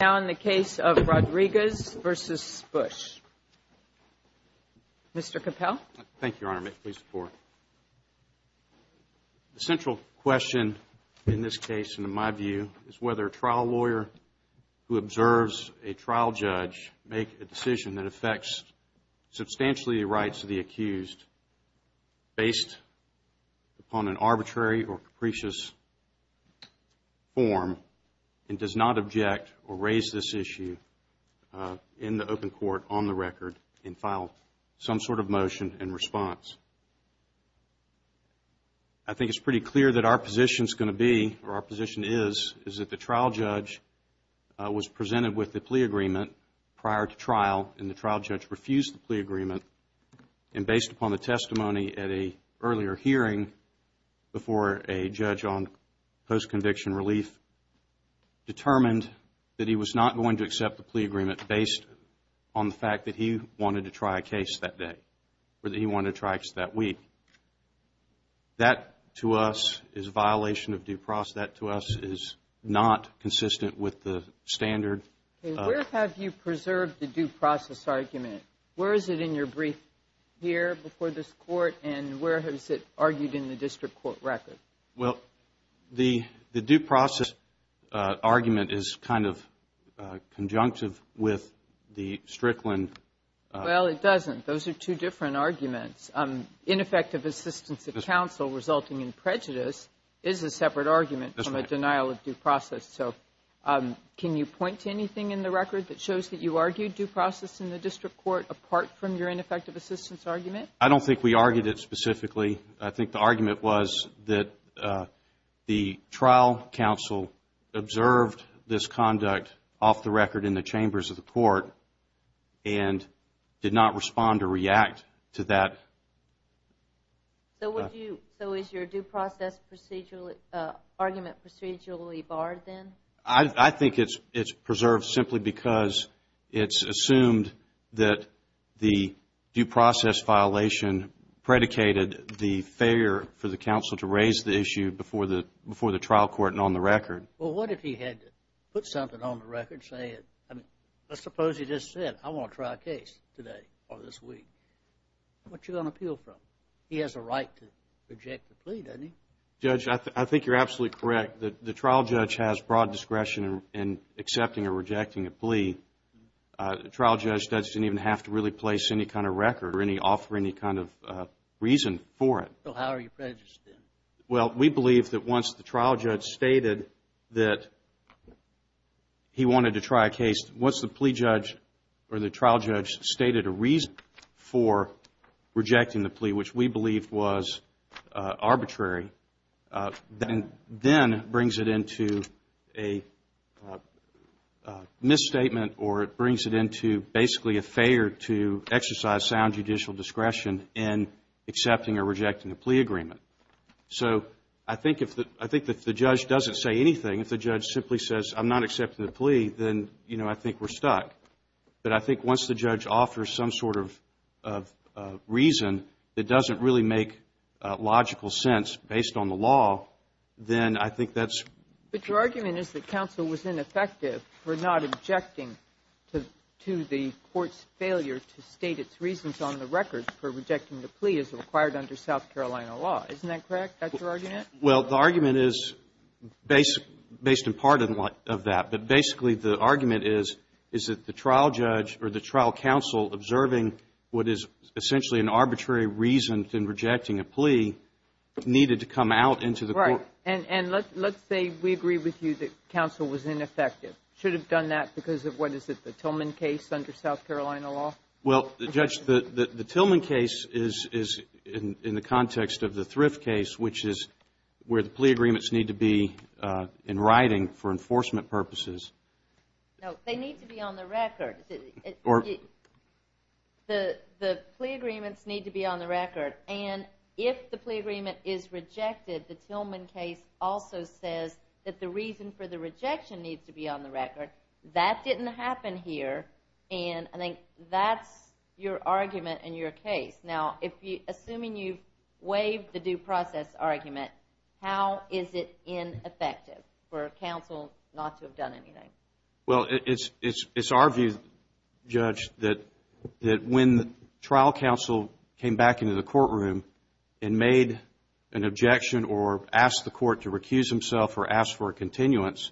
Now in the case of Rodriguez v. Bush. Mr. Capel. Thank you, Your Honor. May it please the Court. The central question in this case, and in my view, is whether a trial lawyer who observes a trial judge make a decision that affects substantially the rights of the accused based upon an arbitrary or capricious form and does not object or raise any questions about whether or not a trial lawyer has the right to make a decision based on an arbitrary or capricious form. Raise this issue in the open court on the record and file some sort of motion and response. I think it's pretty clear that our position is going to be, or our position is, is that the trial judge was presented with the plea agreement prior to trial and the trial judge refused the plea agreement. And based upon the testimony at an earlier hearing before a judge on post-conviction relief, determined that he was not going to accept the plea agreement based on the fact that he wanted to try a case that day or that he wanted to try that week. That, to us, is a violation of due process. That, to us, is not consistent with the standard. Where have you preserved the due process argument? Where is it in your brief here before this court and where has it argued in the district court record? Well, the due process argument is kind of conjunctive with the Strickland. Well, it doesn't. Those are two different arguments. Ineffective assistance of counsel resulting in prejudice is a separate argument from a denial of due process. So, can you point to anything in the record that shows that you argued due process in the district court apart from your ineffective assistance argument? I don't think we argued it specifically. I think the argument was that the trial counsel observed this conduct off the record in the chambers of the court and did not respond or react to that. So, is your due process argument procedurally barred then? I think it's preserved simply because it's assumed that the due process violation predicated the failure for the counsel to raise the issue before the trial court and on the record. Well, what if he had put something on the record saying, I suppose he just said, I want to try a case today or this week. What are you going to appeal from? He has a right to reject the plea, doesn't he? Judge, I think you're absolutely correct. The trial judge has broad discretion in accepting or rejecting a plea. The trial judge doesn't even have to really place any kind of record or offer any kind of reason for it. So, how are you prejudiced then? Well, we believe that once the trial judge stated that he wanted to try a case, once the plea judge or the trial judge stated a reason for rejecting the plea, which we believe was arbitrary, then brings it into a misstatement or it brings it into basically a failure to exercise sound judicial discretion in accepting or rejecting a plea agreement. So, I think if the judge doesn't say anything, if the judge simply says, I'm not accepting the plea, then, you know, I think we're stuck. But I think once the judge offers some sort of reason that doesn't really make logical sense based on the law, then I think that's… But your argument is that counsel was ineffective for not objecting to the court's failure to state its reasons on the record for rejecting the plea as required under South Carolina law. Isn't that correct? That's your argument? Well, the argument is based in part of that. But basically, the argument is, is that the trial judge or the trial counsel observing what is essentially an arbitrary reason in rejecting a plea needed to come out into the court. Right. And let's say we agree with you that counsel was ineffective. Should have done that because of, what is it, the Tillman case under South Carolina law? Well, Judge, the Tillman case is in the context of the Thrift case, which is where the plea agreements need to be in writing for enforcement purposes. No, they need to be on the record. Or… The plea agreements need to be on the record. And if the plea agreement is rejected, the Tillman case also says that the reason for the rejection needs to be on the record. That didn't happen here. And I think that's your argument in your case. Now, assuming you've waived the due process argument, how is it ineffective for counsel not to have done anything? Well, it's our view, Judge, that when the trial counsel came back into the courtroom and made an objection or asked the court to recuse himself or asked for a continuance,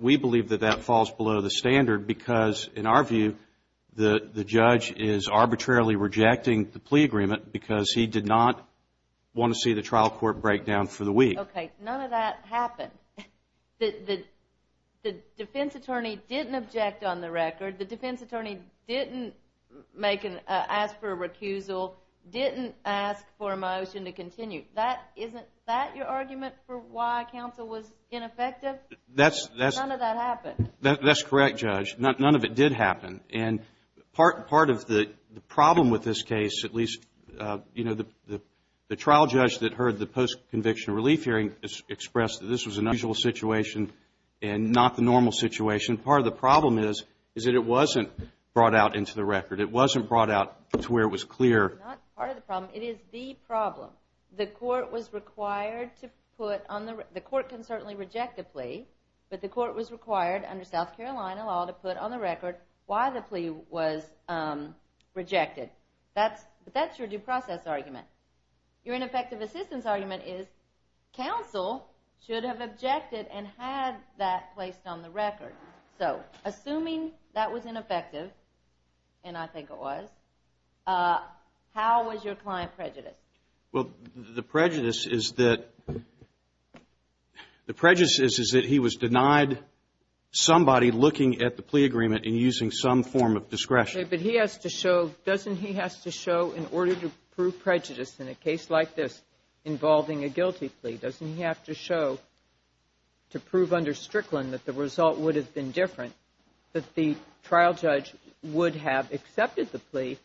we believe that that falls below the standard because, in our view, the judge is arbitrarily rejecting the plea agreement because he did not want to see the trial court break down for the week. Okay. None of that happened. The defense attorney didn't object on the record. The defense attorney didn't ask for a recusal, didn't ask for a motion to continue. Isn't that your argument for why counsel was ineffective? None of that happened. That's correct, Judge. None of it did happen. And part of the problem with this case, at least, you know, the trial judge that heard the post-conviction relief hearing expressed that this was an unusual situation and not the normal situation. Part of the problem is that it wasn't brought out into the record. It wasn't brought out to where it was clear. It's not part of the problem. It is the problem. The court was required to put on the – the court can certainly reject a plea, but the court was required under South Carolina law to put on the record why the plea was rejected. But that's your due process argument. Your ineffective assistance argument is counsel should have objected and had that placed on the record. So, assuming that was ineffective, and I think it was, how was your client prejudiced? Well, the prejudice is that – the prejudice is that he was denied somebody looking at the plea agreement and using some form of discretion. Okay, but he has to show – doesn't he have to show in order to prove prejudice in a case like this involving a guilty plea, doesn't he have to show to prove under Strickland that the result would have been different that the trial judge would have accepted the plea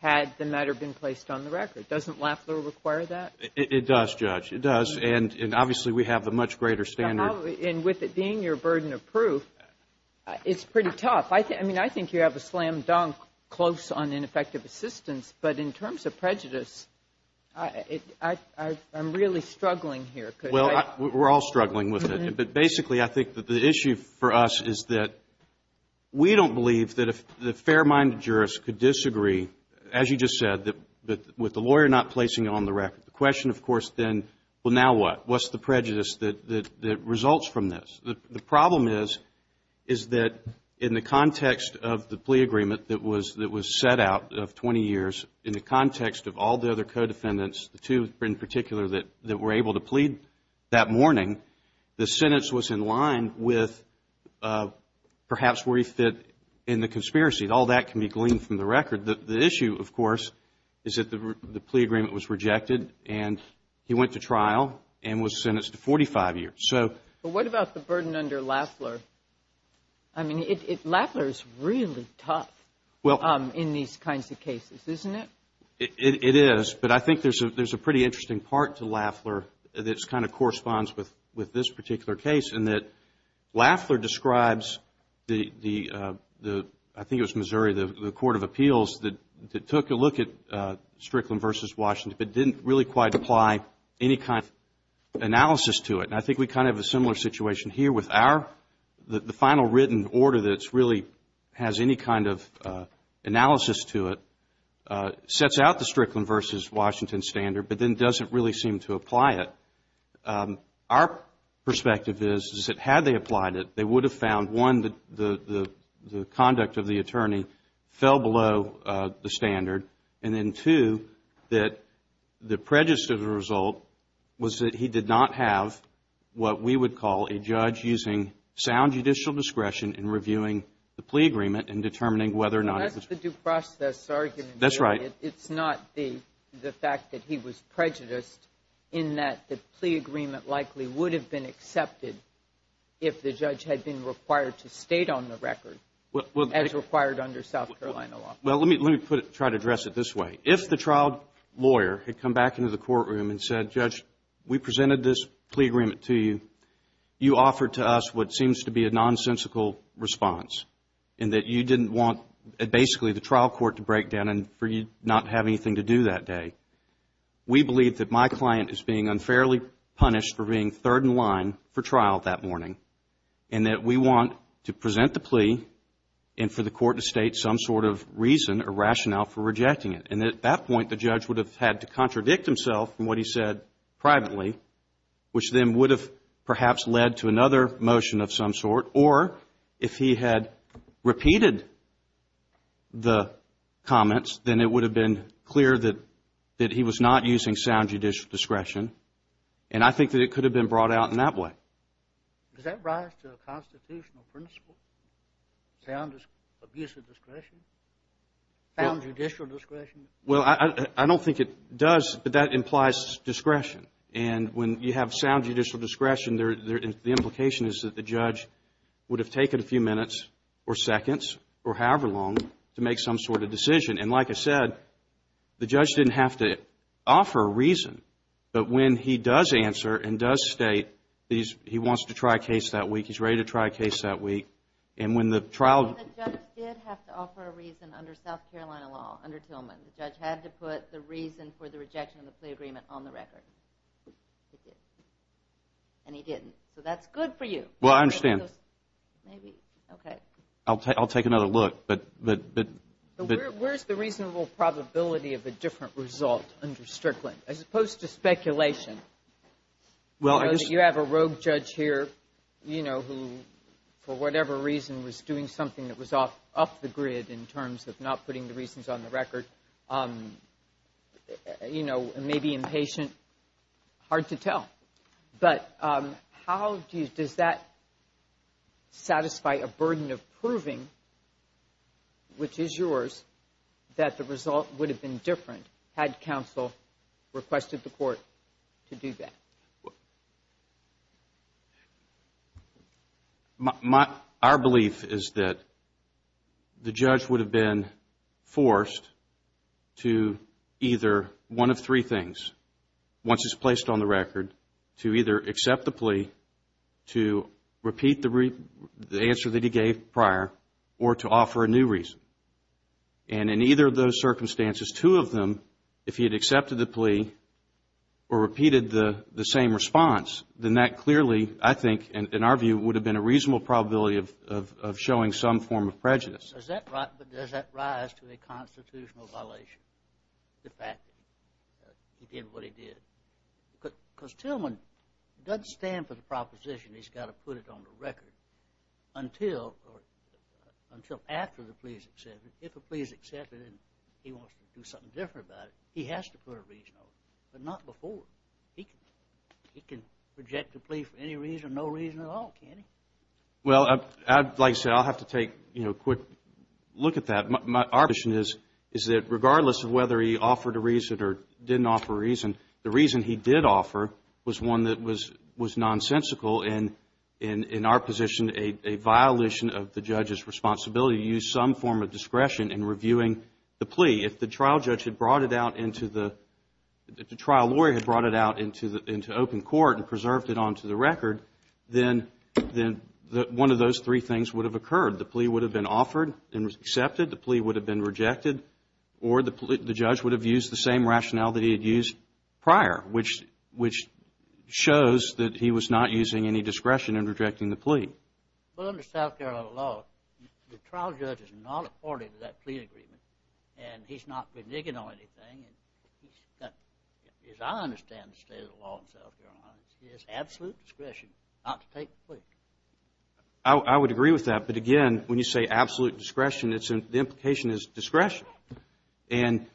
had the matter been placed on the record? Doesn't Lafler require that? It does, Judge. It does. And obviously, we have the much greater standard. And with it being your burden of proof, it's pretty tough. I mean, I think you have a slam dunk close on ineffective assistance, but in terms of prejudice, I'm really struggling here. Well, we're all struggling with it. But basically, I think that the issue for us is that we don't believe that a fair-minded jurist could disagree, as you just said, with the lawyer not placing it on the record. The question, of course, then, well, now what? What's the prejudice that results from this? The problem is, is that in the context of the plea agreement that was set out of 20 years, in the context of all the other co-defendants, the two in particular that were able to plead that morning, the sentence was in line with perhaps where he fit in the conspiracy. All that can be gleaned from the record. The issue, of course, is that the plea agreement was rejected and he went to trial and was sentenced to 45 years. But what about the burden under Lafler? I mean, Lafler is really tough in these kinds of cases, isn't it? It is, but I think there's a pretty interesting part to Lafler that kind of corresponds with this particular case in that Lafler describes the, I think it was Missouri, the court of appeals that took a look at Strickland versus Washington, but didn't really quite apply any kind of analysis to it. And I think we kind of have a similar situation here with our, the final written order that really has any kind of analysis to it, sets out the Strickland versus Washington standard, but then doesn't really seem to apply it. Our perspective is, is that had they applied it, they would have found, one, that the conduct of the attorney fell below the standard, and then, two, that the prejudice of the result was that he did not have what we would call a judge using sound judicial discretion in reviewing the plea agreement and determining whether or not it was true. That's the due process argument. That's right. It's not the fact that he was prejudiced in that the plea agreement likely would have been accepted if the judge had been required to state on the record as required under South Carolina law. Well, let me try to address it this way. If the trial lawyer had come back into the courtroom and said, Judge, we presented this plea agreement to you, you offered to us what seems to be a nonsensical response, and that you didn't want, basically, the trial court to break down and for you not to have anything to do that day. We believe that my client is being unfairly punished for being third in line for trial that morning, and that we want to present the plea and for the court to state some sort of reason or rationale for rejecting it. And at that point, the judge would have had to contradict himself from what he said privately, which then would have perhaps led to another motion of some sort. Or if he had repeated the comments, then it would have been clear that he was not using sound judicial discretion. And I think that it could have been brought out in that way. Does that rise to a constitutional principle, sound abuse of discretion, sound judicial discretion? Well, I don't think it does, but that implies discretion. And when you have sound judicial discretion, the implication is that the judge would have taken a few minutes or seconds or however long to make some sort of decision. And like I said, the judge didn't have to offer a reason, but when he does answer and does state he wants to try a case that week, he's ready to try a case that week, and when the trial... The judge did have to offer a reason under South Carolina law, under Tillman. The judge had to put the reason for the rejection of the plea agreement on the record. And he didn't, so that's good for you. Well, I understand. Maybe, okay. I'll take another look, but... Where's the reasonable probability of a different result under Strickland, as opposed to speculation? Well, I just... You have a rogue judge here, you know, who, for whatever reason, was doing something that was off the grid in terms of not putting the reasons on the record. You know, maybe impatient, hard to tell. But how do you... Does that satisfy a burden of proving, which is yours, that the result would have been different had counsel requested the court to do that? Our belief is that the judge would have been forced to either... To either accept the plea, to repeat the answer that he gave prior, or to offer a new reason. And in either of those circumstances, two of them, if he had accepted the plea or repeated the same response, then that clearly, I think, in our view, would have been a reasonable probability of showing some form of prejudice. But does that rise to a constitutional violation, the fact that he did what he did? Because Tillman doesn't stand for the proposition he's got to put it on the record until after the plea is accepted. If a plea is accepted and he wants to do something different about it, he has to put a reason on it. But not before. He can reject the plea for any reason, no reason at all, can't he? Well, like I said, I'll have to take a quick look at that. Our position is that regardless of whether he offered a reason or didn't offer a reason, the reason he did offer was one that was nonsensical and, in our position, a violation of the judge's responsibility to use some form of discretion in reviewing the plea. If the trial judge had brought it out into the... If the trial lawyer had brought it out into open court and preserved it onto the record, then one of those three things would have occurred. The plea would have been offered and was accepted, the plea would have been rejected, or the judge would have used the same rationale that he had used prior, which shows that he was not using any discretion in rejecting the plea. Well, under South Carolina law, the trial judge is not a party to that plea agreement, and he's not benign on anything, and he's got, as I understand the state of the law in South Carolina, he has absolute discretion not to take the plea. I would agree with that, but again, when you say absolute discretion, the implication is discretion. And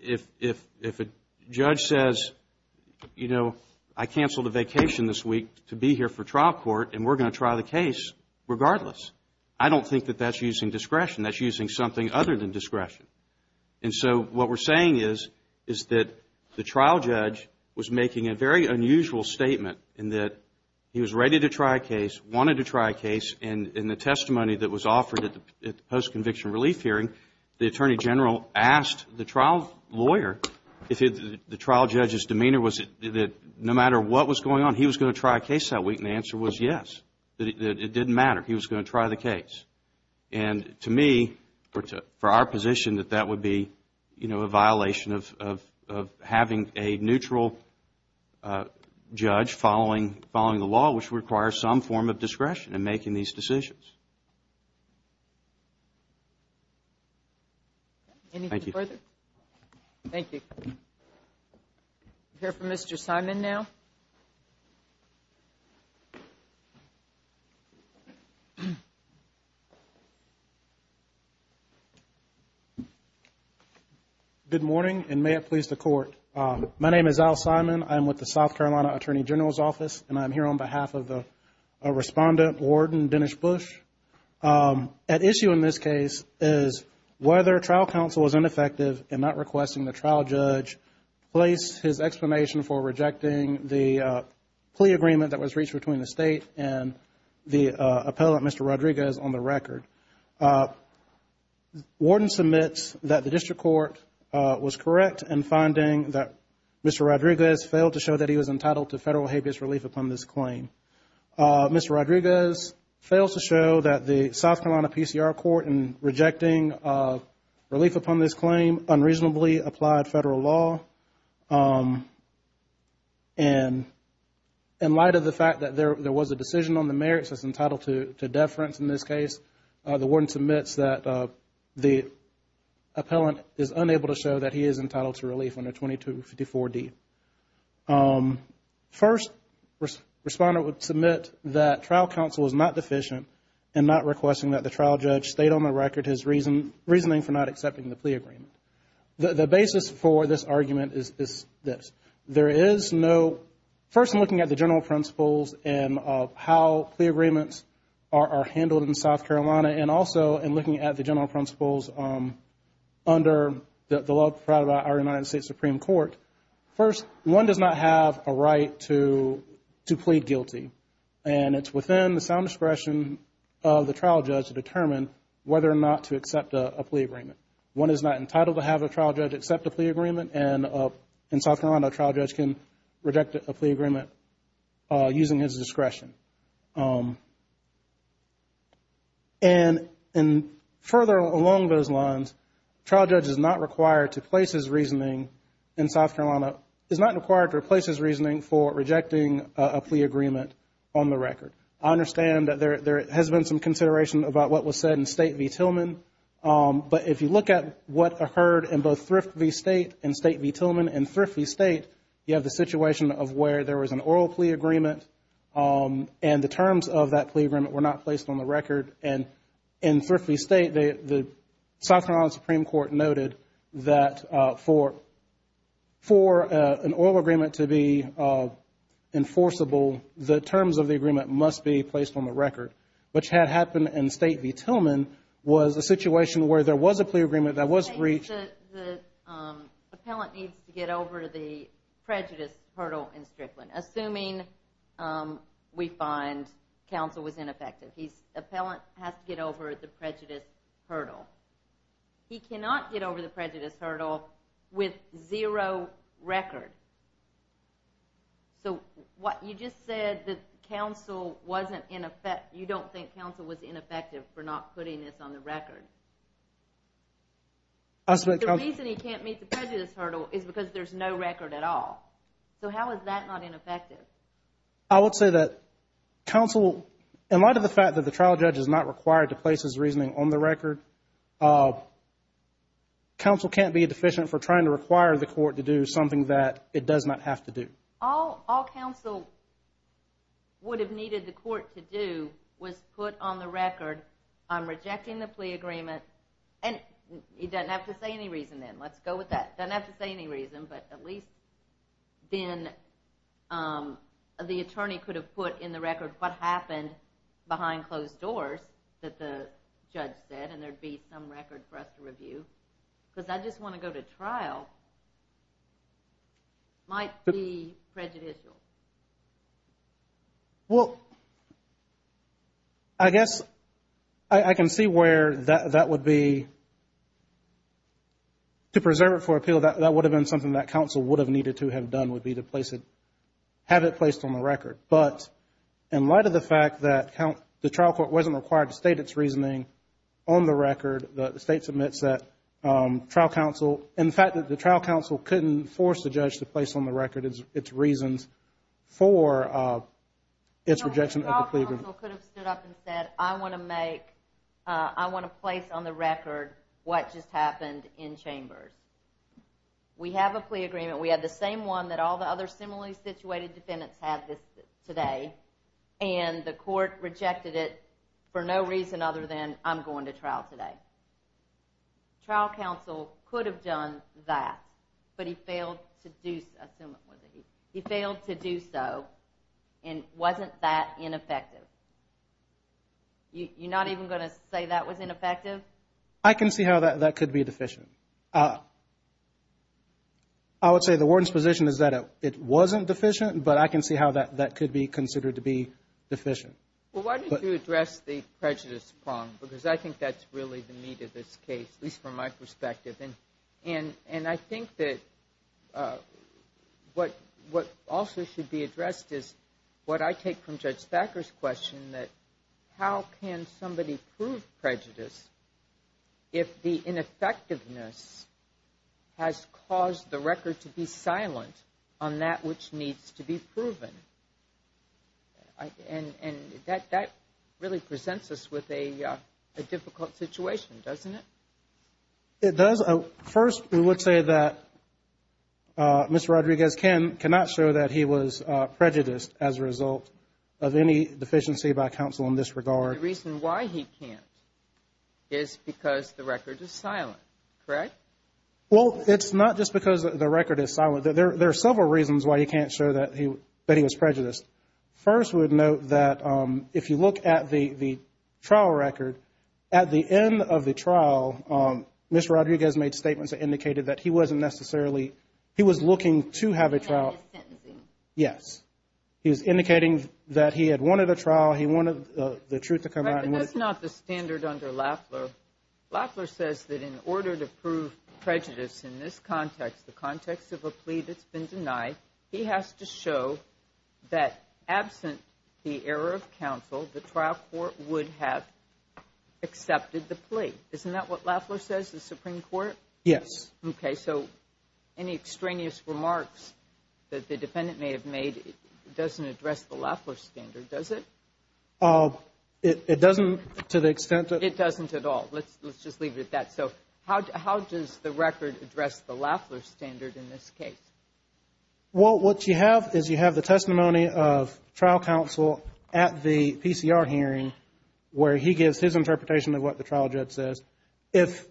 if a judge says, you know, I canceled a vacation this week to be here for trial court and we're going to try the case regardless, I don't think that that's using discretion, that's using something other than discretion. And so what we're saying is that the trial judge was making a very unusual statement in that he was ready to try a case, wanted to try a case, and in the testimony that was offered at the post-conviction relief hearing, the attorney general asked the trial lawyer if the trial judge's demeanor was that no matter what was going on, he was going to try a case that week, and the answer was yes, that it didn't matter, he was going to try the case. And to me, for our position, that that would be, you know, a violation of having a neutral judge following the law, which requires some form of discretion in making these decisions. Anything further? Thank you. We'll hear from Mr. Simon now. Good morning, and may it please the Court. My name is Al Simon. I'm with the South Carolina Attorney General's Office, and I'm here on behalf of the Respondent, Warden Dennis Bush. At issue in this case is whether trial counsel was ineffective in not requesting the trial judge place his explanation for rejecting the plea agreement that was reached between the State and the appellant, Mr. Rodriguez, on the record. Warden submits that the district court was correct in finding that Mr. Rodriguez failed to show that he was entitled to federal habeas relief upon this claim. Mr. Rodriguez fails to show that the South Carolina PCR Court in rejecting relief upon this claim unreasonably applied federal law. And in light of the fact that there was a decision on the merits that's entitled to deference in this case, the Warden submits that the appellant is unable to show that he is entitled to relief under 2254D. First, Respondent would submit that trial counsel was not deficient in not requesting that the trial judge state on the record his reasoning for not accepting the plea agreement. The basis for this argument is this. There is no, first in looking at the general principles and how plea agreements are handled in South Carolina, and also in looking at the general principles under the law provided by our United States Supreme Court, first, one does not have a right to plead guilty. And it's within the sound discretion of the trial judge to determine whether or not to accept a plea agreement. One is not entitled to have a trial judge accept a plea agreement, and in South Carolina, a trial judge can reject a plea agreement using his discretion. And further along those lines, a trial judge is not required to place his reasoning in South Carolina, is not required to place his reasoning for rejecting a plea agreement on the record. I understand that there has been some consideration about what was said in State v. Tillman, but if you look at what occurred in both Thrift v. State and State v. Tillman, in Thrift v. State, you have the situation of where there was an oral plea agreement, and the terms of that plea agreement were not placed on the record. And in Thrift v. State, the South Carolina Supreme Court noted that for an oral agreement to be enforceable, the terms of the agreement must be placed on the record, which had happened in State v. Tillman, was a situation where there was a plea agreement that was reached. So the appellant needs to get over the prejudice hurdle in Strickland, assuming we find counsel was ineffective. The appellant has to get over the prejudice hurdle. He cannot get over the prejudice hurdle with zero record. So you just said that you don't think counsel was ineffective for not putting this on the record. The reason he can't meet the prejudice hurdle is because there's no record at all. So how is that not ineffective? I would say that counsel, in light of the fact that the trial judge is not required to place his reasoning on the record, counsel can't be deficient for trying to require the court to do something that it does not have to do. All counsel would have needed the court to do was put on the record, I'm rejecting the plea agreement, and he doesn't have to say any reason then, let's go with that. Doesn't have to say any reason, but at least then the attorney could have put in the record what happened behind closed doors that the judge said, and there'd be some record for us to review. Because I just want to go to trial. Might be prejudicial. Well, I guess I can see where that would be. To preserve it for appeal, that would have been something that counsel would have needed to have done, would be to have it placed on the record. But in light of the fact that the trial court wasn't required to state its reasoning on the record, the state submits that. In fact, the trial counsel couldn't force the judge to place on the record its reasons for its rejection of the plea agreement. The trial counsel could have stood up and said, I want to make, I want to place on the record what just happened in chambers. We have a plea agreement, we have the same one that all the other similarly situated defendants have today, and the court rejected it for no reason other than, I'm going to trial today. Trial counsel could have done that, but he failed to do so, and wasn't that ineffective. You're not even going to say that was ineffective? I can see how that could be deficient. I would say the warden's position is that it wasn't deficient, but I can see how that could be considered to be deficient. Well, why did you address the prejudice prong? Because I think that's really the meat of this case, at least from my perspective. And I think that what also should be addressed is what I take from Judge Thacker's question, that how can somebody prove prejudice if the ineffectiveness has caused the record to be silent on that which needs to be proven? And that really presents us with a difficult situation, doesn't it? It does. First, we would say that Mr. Rodriguez cannot show that he was prejudiced as a result of any deficiency by counsel in this regard. The reason why he can't is because the record is silent, correct? Well, it's not just because the record is silent. There are several reasons why he can't show that he was prejudiced. First, we would note that if you look at the trial record, at the end of the trial, Mr. Rodriguez made statements that indicated that he wasn't necessarily, he was looking to have a trial. Sentencing. Yes. He was indicating that he had wanted a trial, he wanted the truth to come out. But that's not the standard under Lafler. Lafler says that in order to prove prejudice in this plea that's been denied, he has to show that absent the error of counsel, the trial court would have accepted the plea. Isn't that what Lafler says to the Supreme Court? Yes. Okay, so any extraneous remarks that the defendant may have made doesn't address the Lafler standard, does it? It doesn't to the extent that... It doesn't at all. Let's just leave it at that. So how does the record address the Lafler standard in this case? Well, what you have is you have the testimony of trial counsel at the PCR hearing where he gives his interpretation of what the trial judge says. If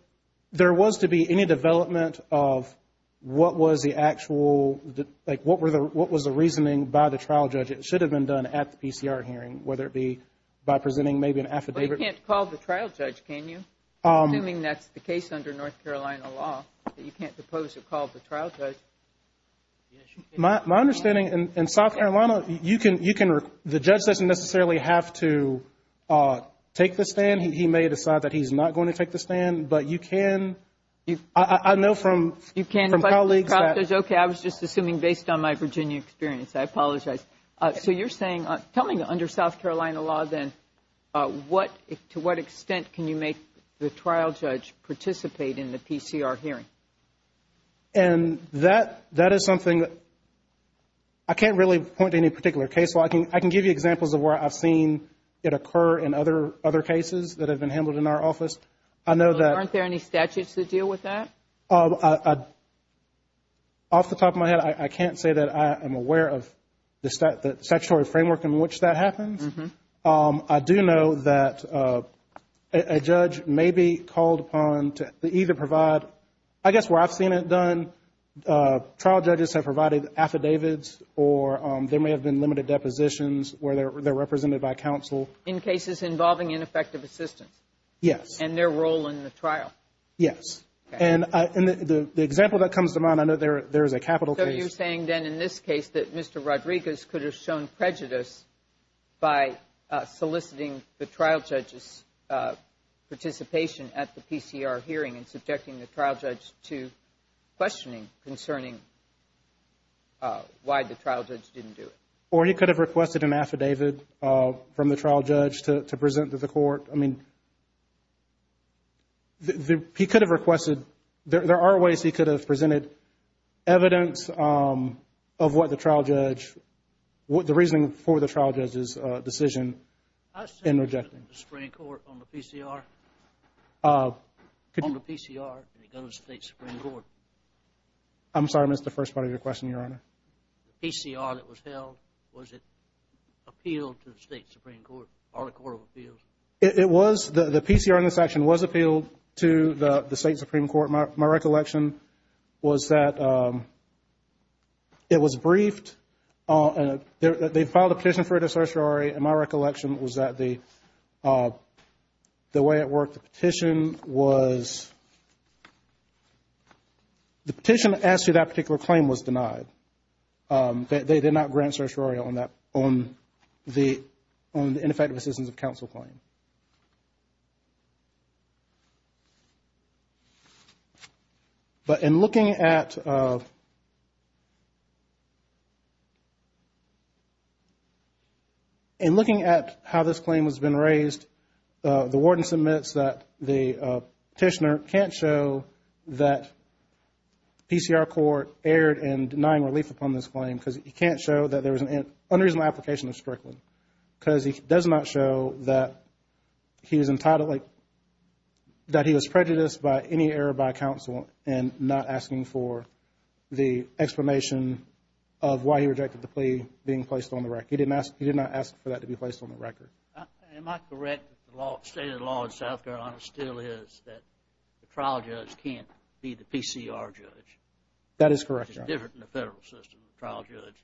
there was to be any development of what was the actual, like what was the reasoning by the trial judge it should have been done at the PCR hearing, whether it be by presenting maybe an affidavit. But you can't call the trial judge, can you? Assuming that's the case under North Carolina law, that you can't propose to call the trial judge. My understanding, in South Carolina, you can the judge doesn't necessarily have to take the stand. He may decide that he's not going to take the stand, but you can I know from colleagues that... Okay, I was just assuming based on my Virginia experience. I apologize. So you're saying, tell me under South Carolina law then, to what extent can you make the trial judge participate in the PCR hearing? And that is something that I can't really point to any particular case. I can give you examples of where I've seen it occur in other cases that have been handled in our office. I know that Aren't there any statutes that deal with that? Off the top of my head, I can't say that I am aware of the statutory framework in which that happens. I do know that a judge may be called upon to either provide I guess where I've seen it done, trial judges have provided affidavits or there may have been limited depositions where they're represented by counsel. In cases involving ineffective assistance? Yes. And their role in the trial? Yes. And the example that comes to mind, I know there is a capital case. So you're saying then in this case that Mr. Rodriguez could have shown prejudice by soliciting the trial judge's participation at the PCR hearing and subjecting the trial judge to questioning concerning why the trial judge didn't do it? Or he could have requested an affidavit from the trial judge to present to the court. I mean, he could have requested, there are ways he could have presented evidence of what the trial judge, the reasoning for the trial judge's decision in rejecting. On the PCR? I'm sorry, I missed the first part of your question, Your Honor. The PCR that was held, was it appealed to the State Supreme Court or the Court of Appeals? It was, the PCR in this section was appealed to the State Supreme Court. My recollection was that it was briefed and they filed a petition for it at certiorari and my recollection was that the way it worked, the petition was the petition that asked you that particular claim was denied. They did not grant certiorari on that on the ineffective assistance of counsel claim. But in looking at how this claim has been raised, the warden submits that the petitioner can't show that PCR court erred in denying relief upon this claim because he can't show that there was an unreasonable application of Strickland. Because he does not show that he was entitled, that he was prejudiced by any error by counsel and not asking for the explanation of why he rejected the plea being placed on the record. He did not ask for that to be placed on the record. Am I correct that the state of the law in South Carolina still is that the trial judge can't be the PCR judge? That is correct, Your Honor. It's different in the federal system, the trial judge.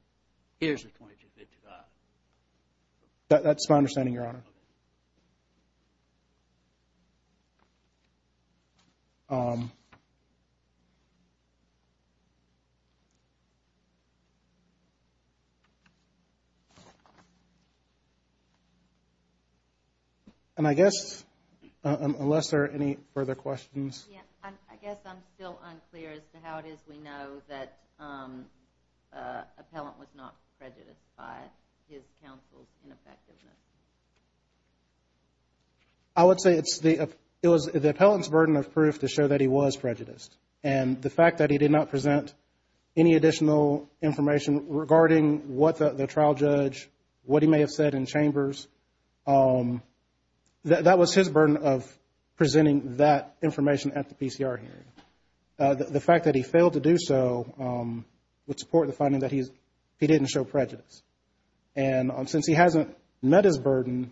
Here's the 2255. That's my understanding, Your Honor. Thank you. And I guess, unless there are any further questions. I guess I'm still unclear as to how it is we know that an appellant was not prejudiced by his counsel's ineffectiveness. I would say it was the appellant's burden of proof to show that he was prejudiced. And the fact that he did not present any additional information regarding what the trial judge what he may have said in chambers, that was his burden of presenting that information at the PCR hearing. The fact that he failed to do so would support the finding that he didn't show prejudice. And since he hasn't met his burden,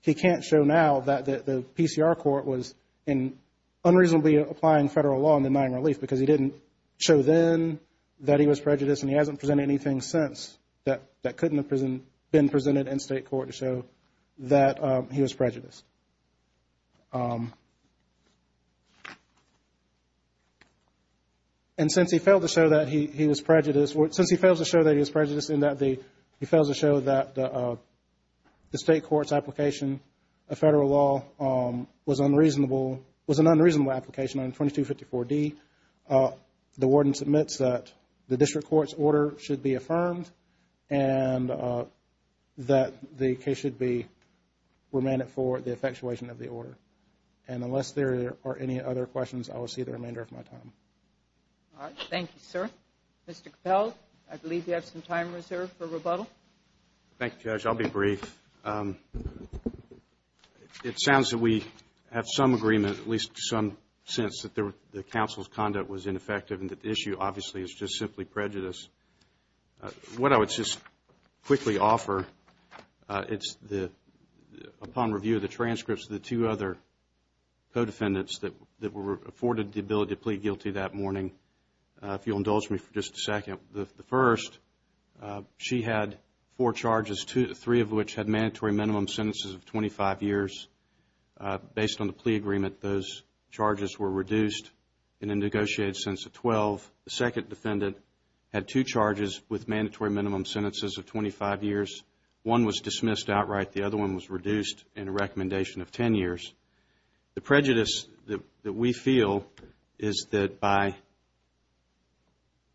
he can't show now that the PCR court was unreasonably applying federal law on denying relief because he didn't show then that he was prejudiced and he hasn't presented anything since that couldn't have been presented in state court to show that he was prejudiced. And since he failed to show that he was prejudiced in that he fails to show that the state court's application of federal law was an unreasonable application on 2254D, the warden submits that the district court's order should be affirmed and that the case should be remanded for the effectuation of the order. And unless there are any other questions I will see the remainder of my time. Mr. Capel, I believe you have some time reserved for rebuttal. Thank you, Judge. I'll be brief. It sounds that we have some agreement, at least some sense that the counsel's conduct was ineffective and that the issue, obviously, is just simply prejudice. What I would just quickly offer is upon review of the transcripts of the two other co-defendants that were afforded the ability to plead guilty that morning, if you'll indulge me for just a second, the first she had four charges, three of which had mandatory minimum sentences of 25 years. Based on the plea agreement those charges were reduced in a negotiated sentence of 12. The second defendant had two charges with mandatory minimum sentences of 25 years. One was dismissed outright. The other one was reduced in a recommendation of 10 years. The prejudice that we feel is that by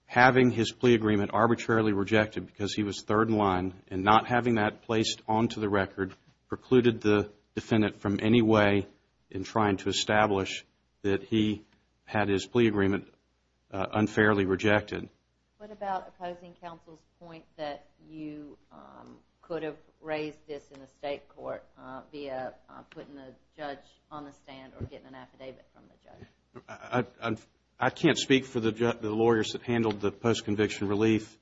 having his plea agreement arbitrarily rejected because he was third in line and not having that placed onto the record precluded the defendant from any way in trying to establish that he had his plea agreement unfairly rejected. What about opposing counsel's point that you could have raised this in the State Court via putting the judge on the stand or getting an affidavit from the judge? I can't speak for the lawyers that handled the post-conviction relief.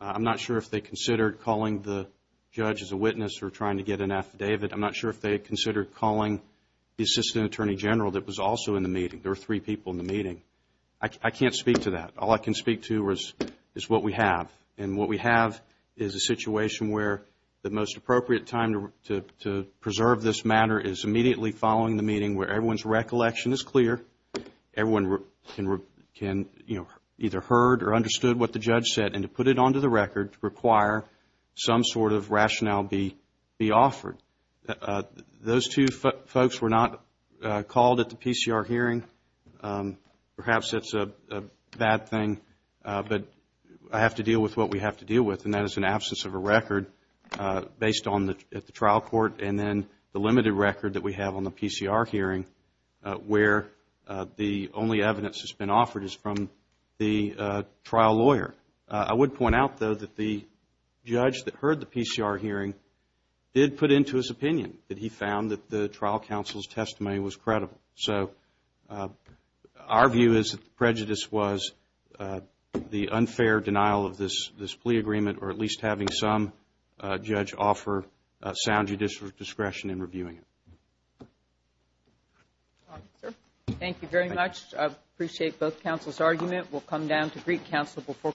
I'm not sure if they considered calling the judge as a witness or trying to get an affidavit. I'm not sure if they considered calling the Assistant Attorney General that was also in the meeting. There were three people in the meeting. I can't speak to that. All I can speak to is what we have. And what we have is a situation where the most appropriate time to preserve this matter is immediately following the meeting where everyone's recollection is clear. Everyone can either heard or understood what the judge said and to put it onto the record to require some sort of rationale be offered. Those two folks were not called at the PCR hearing. Perhaps that's a bad thing. But I have to deal with what we have to deal with and that is an absence of a record based at the trial court and then the hearing where the only evidence that's been offered is from the trial lawyer. I would point out though that the judge that heard the PCR hearing did put into his opinion that he found that the trial counsel's testimony was credible. Our view is that the prejudice was the unfair denial of this plea agreement or at least having some judge offer sound judicial discretion in reviewing it. Thank you very much. I appreciate both counsel's argument. We'll come down to greet counsel before closing.